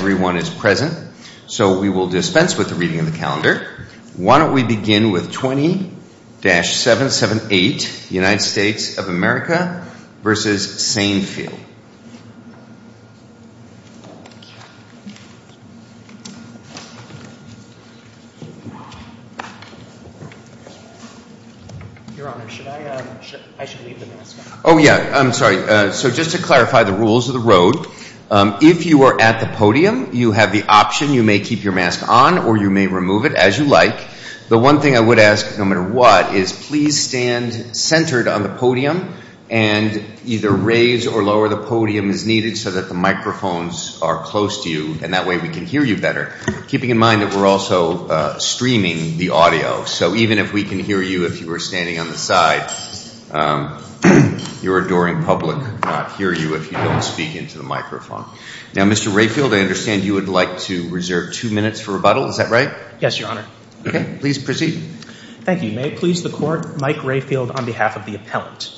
20-778 United States of America v. Sainfil Just to clarify the rules of the road. If you are at the podium, you have the option, you may keep your mask on or you may remove it as you like. The one thing I would ask, no matter what, is please stand centered on the podium and either raise or lower the podium as needed so that the microphones are close to you and that way we can hear you better. Keeping in mind that we're also streaming the audio, so even if we can hear you if you were standing on the side, your adoring public could not hear you if you don't speak into the microphone. Now, Mr. Rayfield, I understand you would like to reserve two minutes for rebuttal. Is that right? Yes, Your Honor. Okay, please proceed. Thank you. May it please the Court, Mike Rayfield on behalf of the appellant.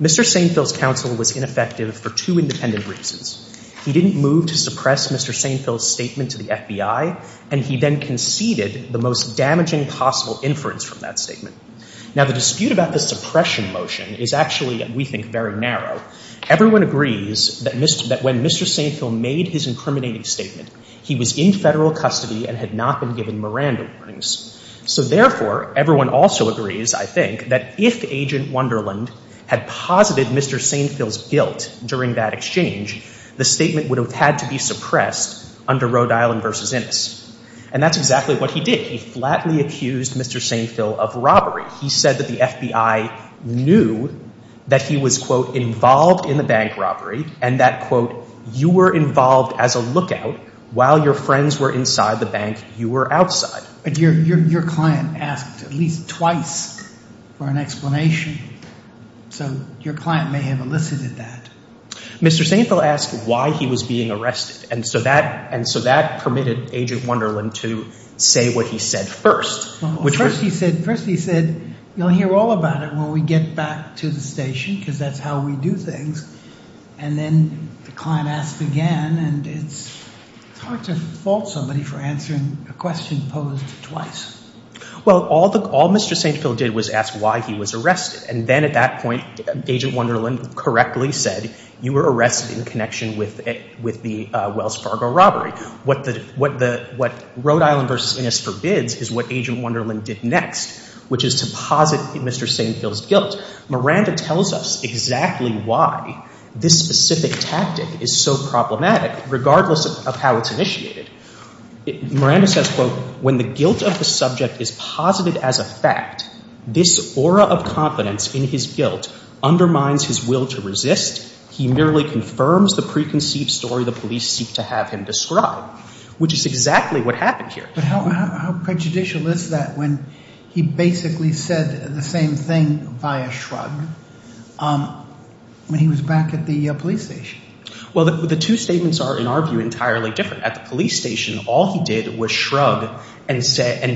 Mr. Sainfil's counsel was ineffective for two independent reasons. He didn't move to suppress Mr. Sainfil's statement to the FBI and he then conceded the most damaging possible inference from that statement. Now, the dispute about the suppression motion is actually, we think, very narrow. Everyone agrees that when Mr. Sainfil made his incriminating statement, he was in federal custody and had not been given Miranda warnings. So therefore, everyone also agrees, I think, that if Agent Wonderland had posited Mr. Sainfil's guilt during that exchange, the statement would have had to be suppressed under Rhode Island v. Innis. And that's exactly what he did. He flatly accused Mr. Sainfil of robbery. He said that the FBI knew that he was, quote, involved in the bank robbery and that, quote, you were involved as a lookout while your friends were inside the bank, you were outside. But your client asked at least twice for an explanation. So your client may have elicited that. Mr. Sainfil asked why he was being arrested. And so that permitted Agent Wonderland to say what he said first. First, he said, you'll hear all about it when we get back to the station because that's how we do things. And then the client asked again. And it's hard to fault somebody for answering a question posed twice. Well, all Mr. Sainfil did was ask why he was arrested. And then at that point, Agent Wonderland correctly said, you were arrested in connection with the Rhode Island v. Innis for bids is what Agent Wonderland did next, which is to posit Mr. Sainfil's guilt. Miranda tells us exactly why this specific tactic is so problematic, regardless of how it's initiated. Miranda says, quote, when the guilt of the subject is posited as a fact, this aura of confidence in his guilt undermines his will to resist. He merely confirms the But how prejudicial is that when he basically said the same thing by a shrug when he was back at the police station? Well, the two statements are, in our view, entirely different. At the police station, all he did was shrug and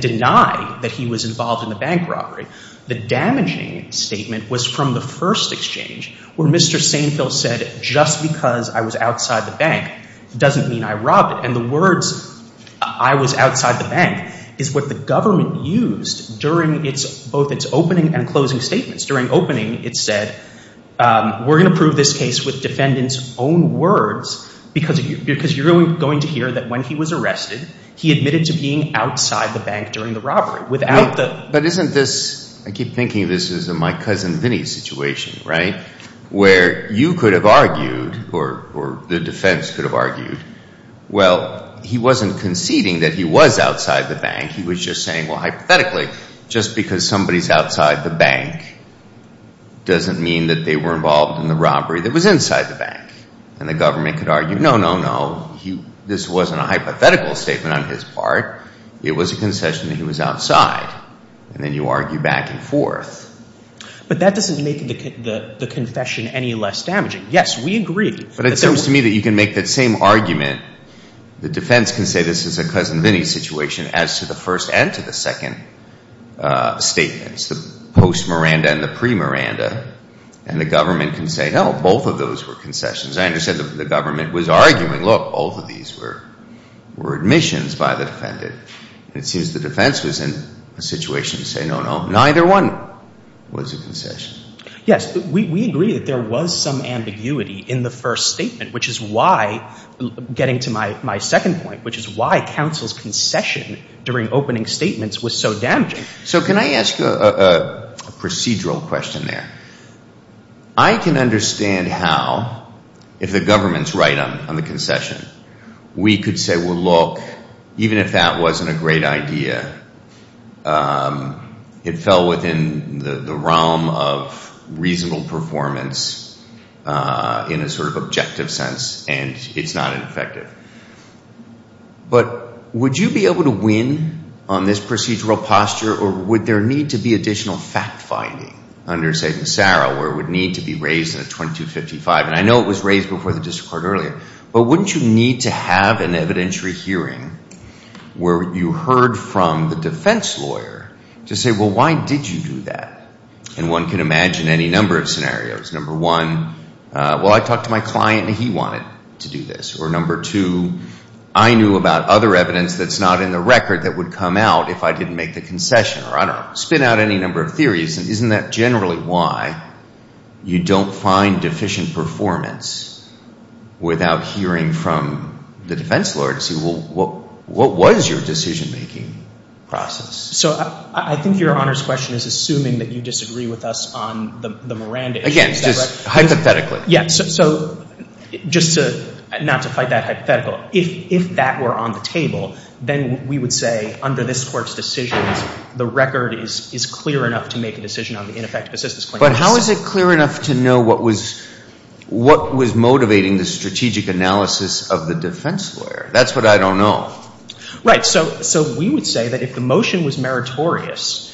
deny that he was involved in the bank robbery. The damaging statement was from the first exchange, where Mr. Sainfil said, just because I was outside the bank doesn't mean I robbed it. And the words, I was outside the bank, is what the government used during both its opening and closing statements. During opening, it said, we're going to prove this case with defendant's own words, because you're going to hear that when he was arrested, he admitted to being outside the bank during the robbery. But isn't this, I keep thinking this is a My Cousin Vinny situation, right? Where you could have argued, or the defense could have argued, well, he wasn't conceding that he was outside the bank. He was just saying, well, hypothetically, just because somebody's outside the bank doesn't mean that they were involved in the robbery that was inside the bank. And the government could argue, no, no, no, this wasn't a hypothetical statement on his part. It was a concession that he was outside. And then you argue back and forth. But that doesn't make the confession any less damaging. Yes, we agree. But it seems to me that you can make that same argument. The defense can say this is a Cousin Vinny situation as to the first and to the second statements, the post-Miranda and the pre-Miranda. And the government can say, no, both of those were concessions. I understand the government was arguing, look, both of these were admissions by the defendant. And it seems the defense was in a situation to say, no, no, neither one was a concession. Yes, we agree that there was some ambiguity in the first statement, which is why, getting to my second point, which is why counsel's concession during opening statements was so damaging. So can I ask a procedural question there? I can understand how, if the government's right on the concession, we could say, well, look, even if that wasn't a great idea, it fell within the realm of reasonable performance in a sort of objective sense. And it's not ineffective. But would you be able to win on this procedural posture? Or would there need to be additional fact-finding under, say, Massaro, where it would need to be raised in a 2255? And I know it was raised before the District Court earlier. But wouldn't you need to have an evidentiary hearing where you heard from the defense lawyer to say, well, why did you do that? And one can imagine any number of scenarios. Number one, well, I talked to my client, and he wanted to do this. Or number two, I knew about other evidence that's not in the record that would come out if I didn't make the concession. Or I don't spin out any number of theories. And isn't that generally why you don't find deficient performance without hearing from the defense lawyer to see, well, what was your decision-making process? So I think Your Honor's question is assuming that you disagree with us on the Miranda issue. Again, just hypothetically. Yeah. So just not to fight that hypothetical, if that were on the table, then we would say, under this Court's decisions, the record is clear enough to make a decision on the ineffective assistance claim. But how is it clear enough to know what was motivating the strategic analysis of the defense lawyer? That's what I don't know. Right. So we would say that if the motion was meritorious,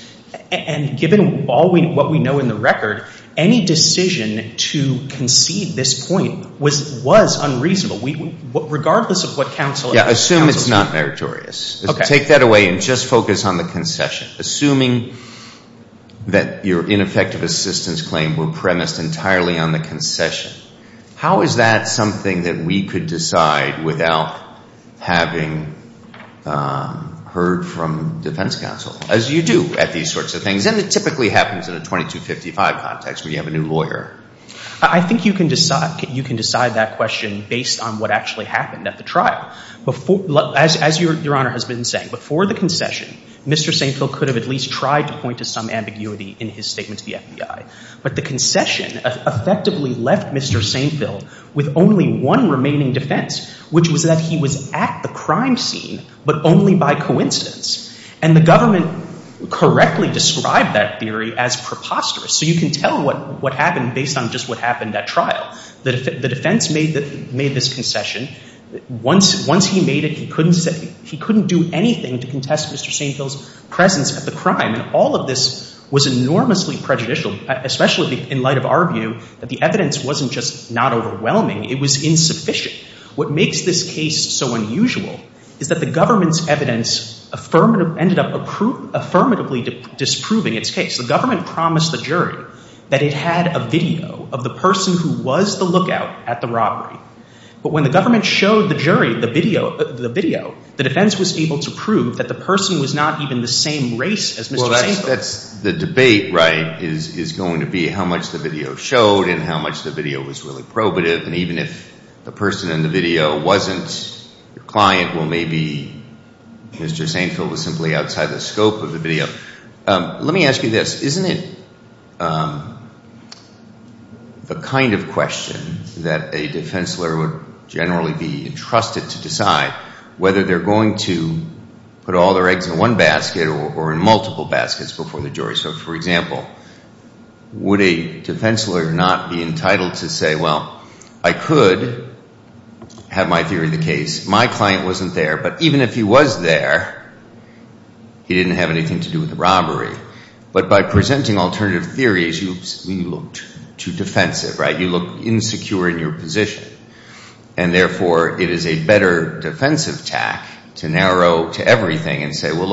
and given what we know in the record, any decision to concede this point was unreasonable, regardless of what counsel said. Yeah. Assume it's not meritorious. Take that away and just focus on the concession. Assuming that your ineffective assistance claim were premised entirely on the concession, how is that something that we could decide without having heard from defense counsel, as you do at these sorts of things? And it typically happens in a 2255 context, where you have a new lawyer. I think you can decide that question based on what actually happened at the trial. As Your Honor has been saying, before the concession, Mr. St. Phil could have at least tried to point to some ambiguity in his statement to the FBI. But the concession effectively left Mr. St. Phil with only one remaining defense, which was that he was at the crime scene, but only by coincidence. And the government correctly described that theory as preposterous. So you can tell what happened based on just what happened at trial. The defense made this concession. Once he made it, he couldn't do anything to contest Mr. St. Phil's presence at the crime. And all of this was enormously prejudicial, especially in light of our view that the evidence wasn't just not overwhelming. It was insufficient. What makes this case so unusual is that the government's evidence ended up affirmatively disproving its case. The government promised the jury that it had a video of the person who was the lookout at the robbery. But when the government showed the jury the video, the defense was able to prove that the person was not even the same race as Mr. St. Phil. That's the debate, right, is going to be how much the video showed and how much the video was really probative. And even if the person in the video wasn't your client, well, maybe Mr. St. Phil was simply outside the scope of the video. Let me ask you this. Isn't it the kind of question that a defense lawyer would generally be entrusted to decide whether they're going to put all their eggs in one basket or in multiple baskets before the jury? So, for example, would a defense lawyer not be entitled to say, well, I could have my theory of the case. My client wasn't there. But even if he was there, he didn't have anything to do with the robbery. But by presenting alternative theories, you look too defensive, right? You look insecure in your position. And therefore, it is a better defensive tack to narrow to everything and say, well,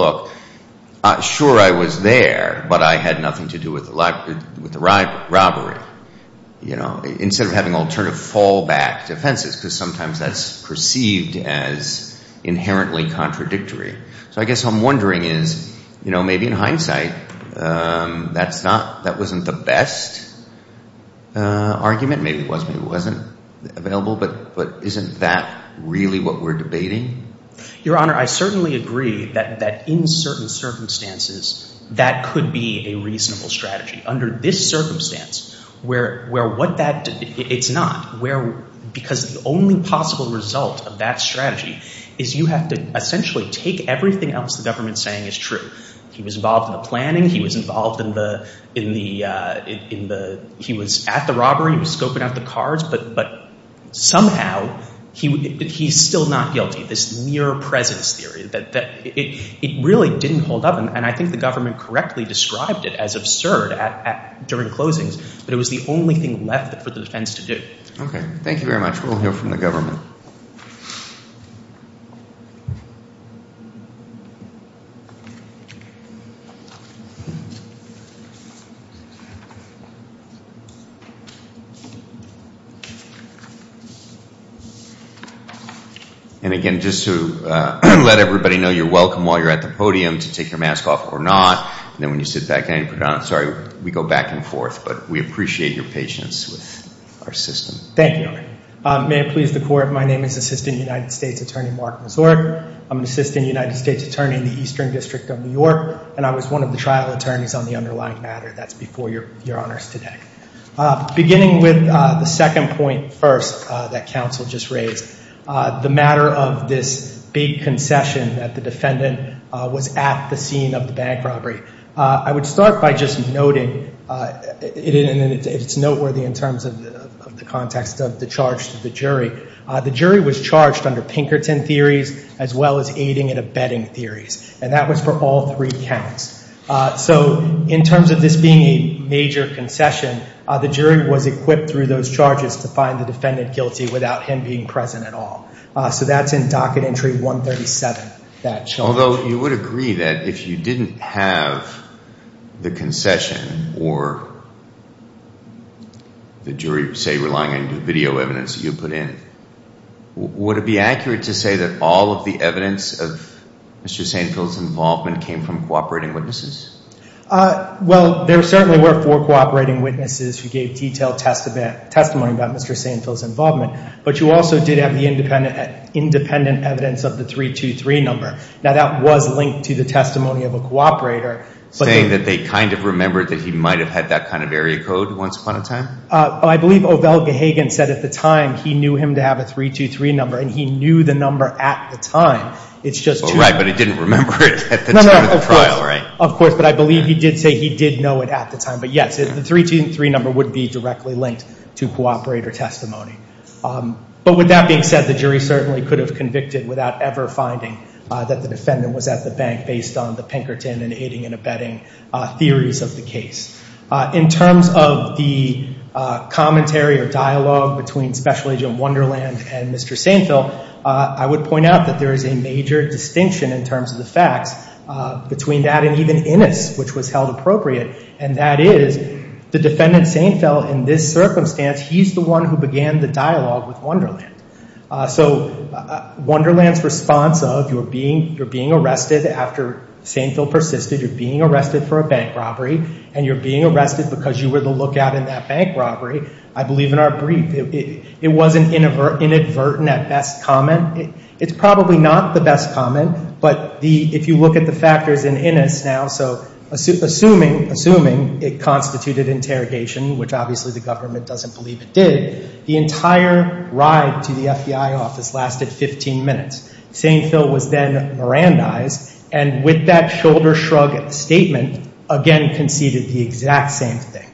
look, sure, I was there, but I had nothing to do with the robbery, you know, instead of having alternative fallback defenses, because sometimes that's perceived as inherently contradictory. So I guess what I'm wondering is, you know, maybe in hindsight, that's not, that wasn't the best argument. Maybe it was, maybe it wasn't available. But isn't that really what we're debating? Your Honor, I certainly agree that in certain circumstances, that could be a reasonable strategy. Under this circumstance, where what that, it's not. Because the only possible result of that strategy is you have to essentially take everything else the government's saying is true. He was involved in the planning. He was involved in the, in the, in the, he was at the robbery. He was scoping out the cards. But, but somehow, he, he's still not guilty. This near presence theory that, that it, it really didn't hold up. And I think the government correctly described it as absurd at, during closings. But it was the only thing left for the defense to do. Okay. Thank you very much. We'll hear from the government. And again, just to let everybody know, you're welcome while you're at the podium to take your mask off or not. And then when you sit back down, you put it on. Sorry, we go back and forth, but we appreciate your patience with our system. Thank you. May it please the court, my name is Assistant United States Attorney Mark Mazur. I'm an Assistant United States Attorney in the Eastern District of New York. And I was one of the trial attorneys on the underlying matter. That's before your, your honors today. Beginning with the second point first, that counsel just raised. The matter of this big concession that the defendant was at the scene of the bank robbery. I would start by just noting, it's noteworthy in terms of the context of the charge to the jury. The jury was charged under Pinkerton theories, as well as aiding and abetting theories. And that was for all three counts. So in terms of this being a major concession, the jury was equipped through those charges to find the defendant guilty without him being present at all. So that's in terms of the evidence that you have, the concession, or the jury say relying on the video evidence you put in. Would it be accurate to say that all of the evidence of Mr. Sanfield's involvement came from cooperating witnesses? Well, there certainly were four cooperating witnesses who gave detailed testimony about Mr. Sanfield's involvement. But you also did have the independent, independent evidence of the 323 number. Now that was linked to the testimony of a cooperator. Saying that they kind of remembered that he might have had that kind of area code once upon a time? I believe Ovell Gahagan said at the time he knew him to have a 323 number and he knew the number at the time. It's just true. Right, but he didn't remember it at the time of the trial, right? Of course, but I believe he did say he did know it at the time. But yes, the 323 number would be without ever finding that the defendant was at the bank based on the Pinkerton and aiding and abetting theories of the case. In terms of the commentary or dialogue between Special Agent Wonderland and Mr. Sanfield, I would point out that there is a major distinction in terms of the facts between that and even Innis, which was held appropriate, and that is the defendant Sanfield, in this circumstance, he's the one who began the dialogue with Wonderland. So Wonderland's response of you're being arrested after Sanfield persisted, you're being arrested for a bank robbery, and you're being arrested because you were the lookout in that bank robbery, I believe in our brief, it was an inadvertent at best comment. It's probably not the best comment, but if you look at the factors in Innis now, so assuming it constituted interrogation, which obviously the government doesn't believe it did, the entire ride to the FBI office lasted 15 minutes. Sanfield was then Mirandized, and with that shoulder shrug statement, again conceded the exact same thing.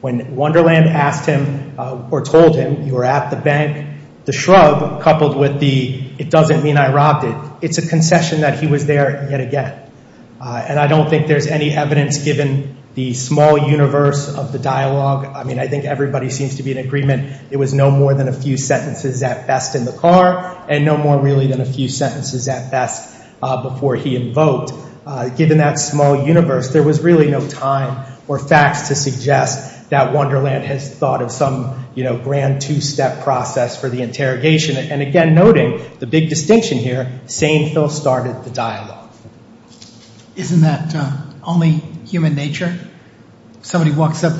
When Wonderland asked him or told him you were at the bank, the shrug coupled with the it doesn't mean I robbed it, it's a concession that he was there yet again. And I think everybody seems to be in agreement, it was no more than a few sentences at best in the car, and no more really than a few sentences at best before he invoked. Given that small universe, there was really no time or facts to suggest that Wonderland has thought of some grand two-step process for the interrogation. And again, noting the big distinction here, Sanfield started the interrogation,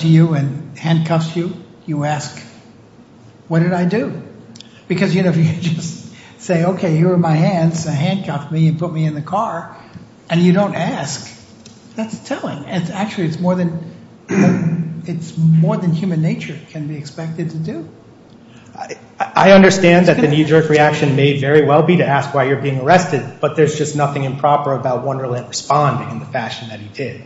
he handcuffs you, you ask, what did I do? Because you know, if you just say, okay, you were in my hands, so handcuff me and put me in the car, and you don't ask, that's telling. It's actually, it's more than human nature can be expected to do. I understand that the knee jerk reaction may very well be to ask why you're being arrested, but there's just nothing improper about Wonderland responding in the fashion that he did.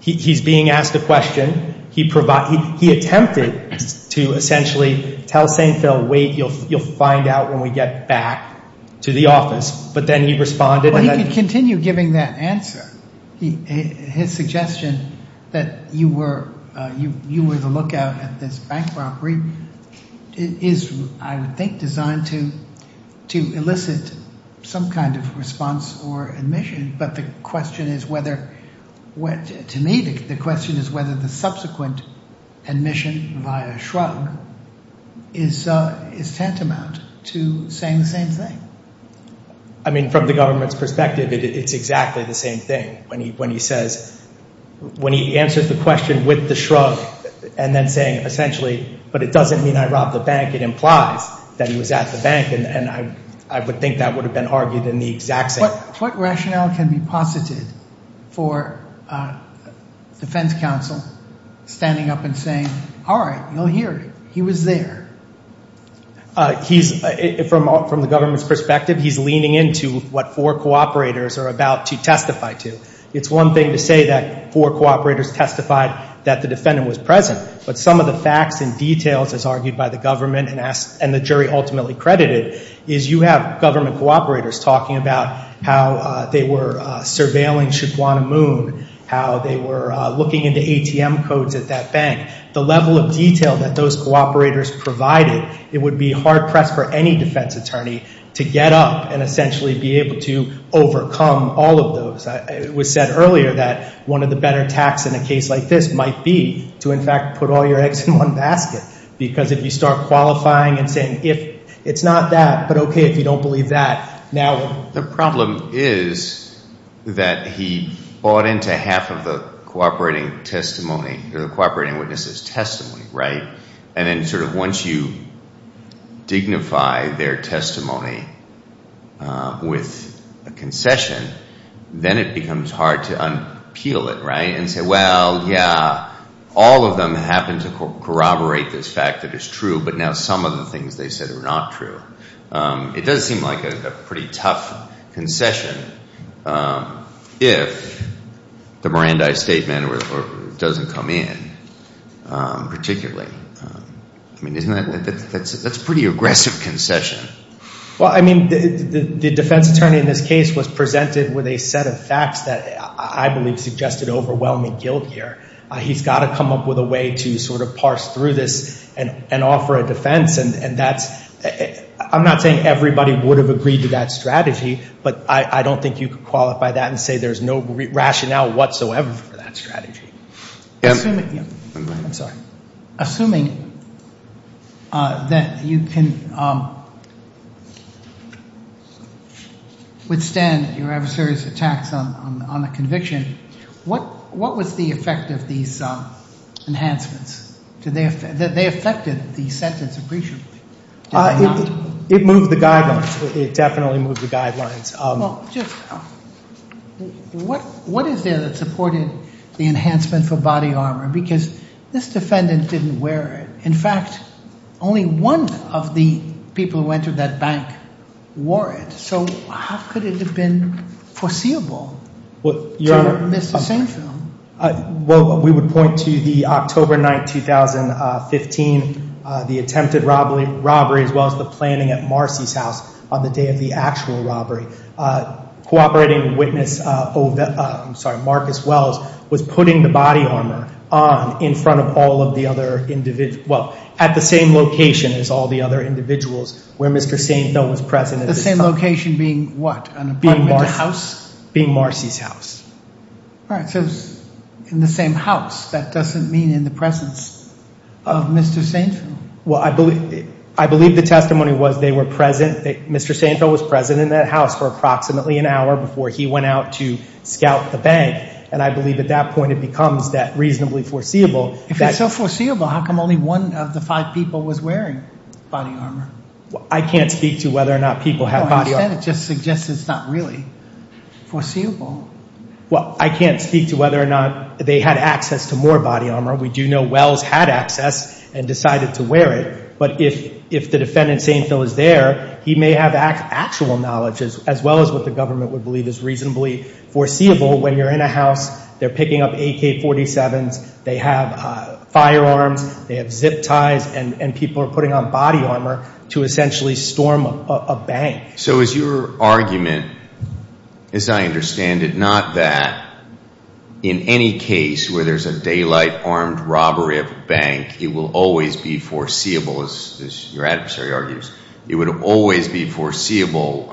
He's being asked a question, he provided, he attempted to essentially tell Sanfield, wait, you'll find out when we get back to the office, but then he responded. He continued giving that answer. His suggestion that you were, you were the lookout at this bank robbery is, I think, designed to elicit some kind of response or admission, but the question is whether, to me, the question is whether the subsequent admission via shrug is tantamount to saying the same thing. I mean, from the government's perspective, it's exactly the same thing. When he says, when he answers the question with the shrug and then saying essentially, but it doesn't mean I robbed the bank, it implies that he was at the bank. What rationale can be posited for defense counsel standing up and saying, all right, you'll hear it. He was there. He's, from the government's perspective, he's leaning into what four cooperators are about to testify to. It's one thing to say that four cooperators testified that the defendant was present, but some of the facts and details, as argued by the government and the jury ultimately credited, is you have government cooperators talking about how they were surveilling Shibwana Moon, how they were looking into ATM codes at that bank. The level of detail that those cooperators provided, it would be hard press for any defense attorney to get up and essentially be able to overcome all of those. It was said earlier that one of the better attacks in a case like this might be to, in fact, put all your eggs in one and say, it's not that, but okay if you don't believe that. The problem is that he bought into half of the cooperating testimony, the cooperating witnesses testimony, right? And then once you dignify their testimony with a concession, then it becomes hard to unpeel it, right? And say, well, yeah, all of them happen to corroborate this fact that is true, but now some of the things they said are not true. It does seem like a pretty tough concession if the Mirandai statement doesn't come in particularly. I mean, isn't that, that's a pretty aggressive concession. Well, I mean, the defense attorney in this case was presented with a set of facts that I believe suggested overwhelming guilt here. He's got to come up with a way to sort of parse through this and offer a defense. And that's, I'm not saying everybody would have agreed to that strategy, but I don't think you could qualify that and say there's no rationale whatsoever for that strategy. Assuming that you can not withstand your adversary's attacks on the conviction, what was the effect of these enhancements? Did they affect the sentence appreciably? It moved the guidelines. It definitely moved the guidelines. What is there that supported the enhancement for body armor? Because this defendant didn't wear it. In fact, only one of the people who entered that bank wore it. So how could it have been foreseeable? Well, we would point to the October 9th, 2015, the attempted robbery, as well as the planning at Marcy's house on the day of the actual robbery. Cooperating witness Marcus Wells was putting the body armor on in front of all of the other individuals, well, at the same location as all the other individuals where Mr. Sainthill was present. The same location being what? An apartment house? Being Marcy's house. All right. So in the same house. That doesn't mean in the presence of Mr. Sainthill. Well, I believe the testimony was they were present. Mr. Sainthill was present in that house. Approximately an hour before he went out to scout the bank. And I believe at that point, it becomes that reasonably foreseeable. If it's so foreseeable, how come only one of the five people was wearing body armor? I can't speak to whether or not people have body armor. No, you said it just suggests it's not really foreseeable. Well, I can't speak to whether or not they had access to more body armor. We do know Wells had access and decided to wear it. But if the defendant, Sainthill, is there, he may have actual knowledge as well as what the government would believe is reasonably foreseeable when you're in a house, they're picking up AK-47s, they have firearms, they have zip ties, and people are putting on body armor to essentially storm a bank. So is your argument, as I understand it, not that in any case where there's a daylight armed robbery of a bank, it will always be foreseeable, as your adversary argues, it would always be foreseeable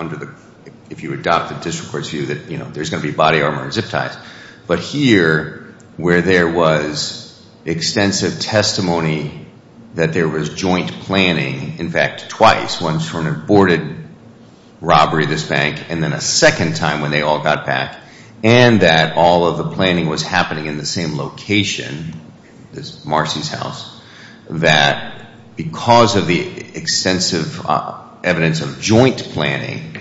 if you adopt the district court's view that there's going to be body armor and zip ties. But here, where there was extensive testimony that there was joint planning, in fact, twice, once for an aborted robbery of this bank, and then a second time when they all got back, and that all of the planning was happening in the same location, this Marcy's house, that because of the extensive evidence of joint planning,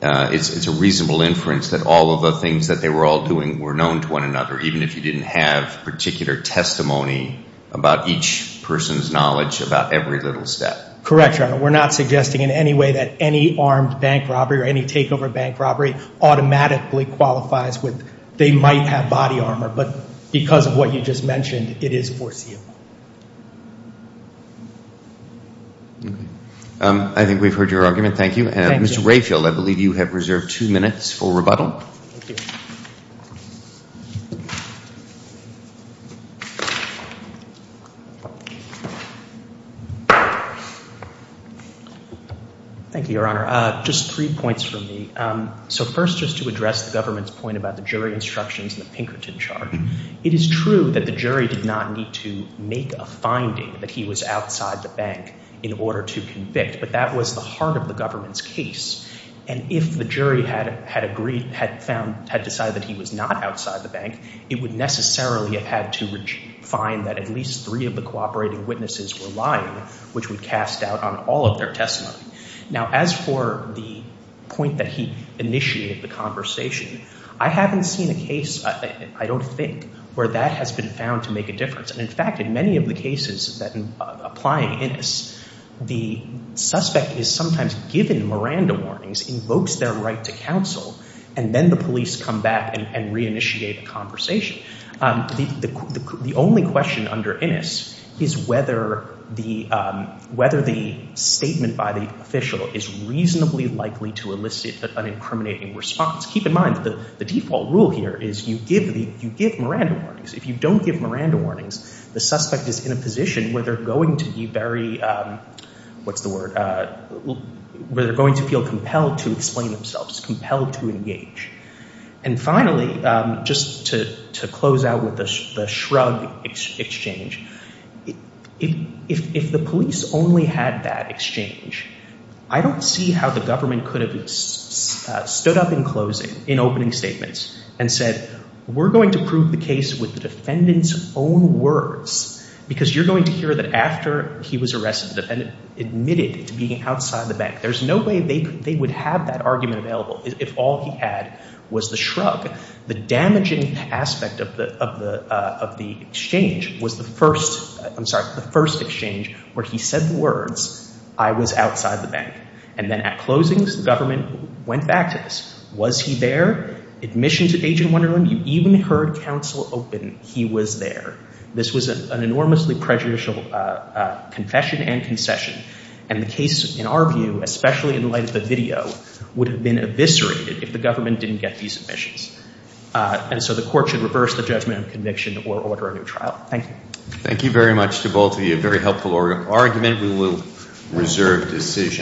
it's a reasonable inference that all of the things that they were all doing were known to one another, even if you didn't have particular testimony about each person's knowledge about every little step. Correct, Your Honor. We're not suggesting in any way that any armed bank robbery or any takeover bank robbery automatically qualifies with they might have body armor, but because of what you just mentioned, it is foreseeable. I think we've heard your argument. Thank you. Mr. Rayfield, I believe you have reserved two minutes for rebuttal. Thank you, Your Honor. Just three points from me. So first, just to address the government's point about the jury instructions and the Pinkerton charge, it is true that the jury did not need to make a finding that he was outside the bank in order to convict, but that was the heart of the government's case, and if the jury had agreed, had found, had decided that he was not outside the bank, it would necessarily have had to find that at least three of the cooperating witnesses were lying, which would cast doubt on all of their testimony. Now, as for the point that he initiated the conversation, I haven't seen a case, I don't think, where that has been found to make a difference, and in fact, in many of the cases that, applying Innis, the suspect is sometimes given Miranda warnings, invokes their right to counsel, and then the police come back and reinitiate a conversation. The only question under Innis is whether the statement by the police is an incriminating response. Keep in mind that the default rule here is you give the, you give Miranda warnings. If you don't give Miranda warnings, the suspect is in a position where they're going to be very, what's the word, where they're going to feel compelled to explain themselves, compelled to engage. And finally, just to close out with the shrug exchange, if the police only had that exchange, I don't see how the government could have stood up in closing, in opening statements, and said, we're going to prove the case with the defendant's own words, because you're going to hear that after he was arrested, the defendant admitted to being outside the bank. There's no way they would have that argument available if all he was the shrug. The damaging aspect of the exchange was the first, I'm sorry, the first exchange where he said the words, I was outside the bank. And then at closings, the government went back to this. Was he there? Admission to Agent Wonderland, you even heard counsel open, he was there. This was an enormously prejudicial confession and concession. And the case, in our view, especially in light of the video, would have been eviscerated if the government didn't get these submissions. And so the court should reverse the judgment of conviction or order a new trial. Thank you. Thank you very much to both of you. Very helpful argument. We will reserve decision.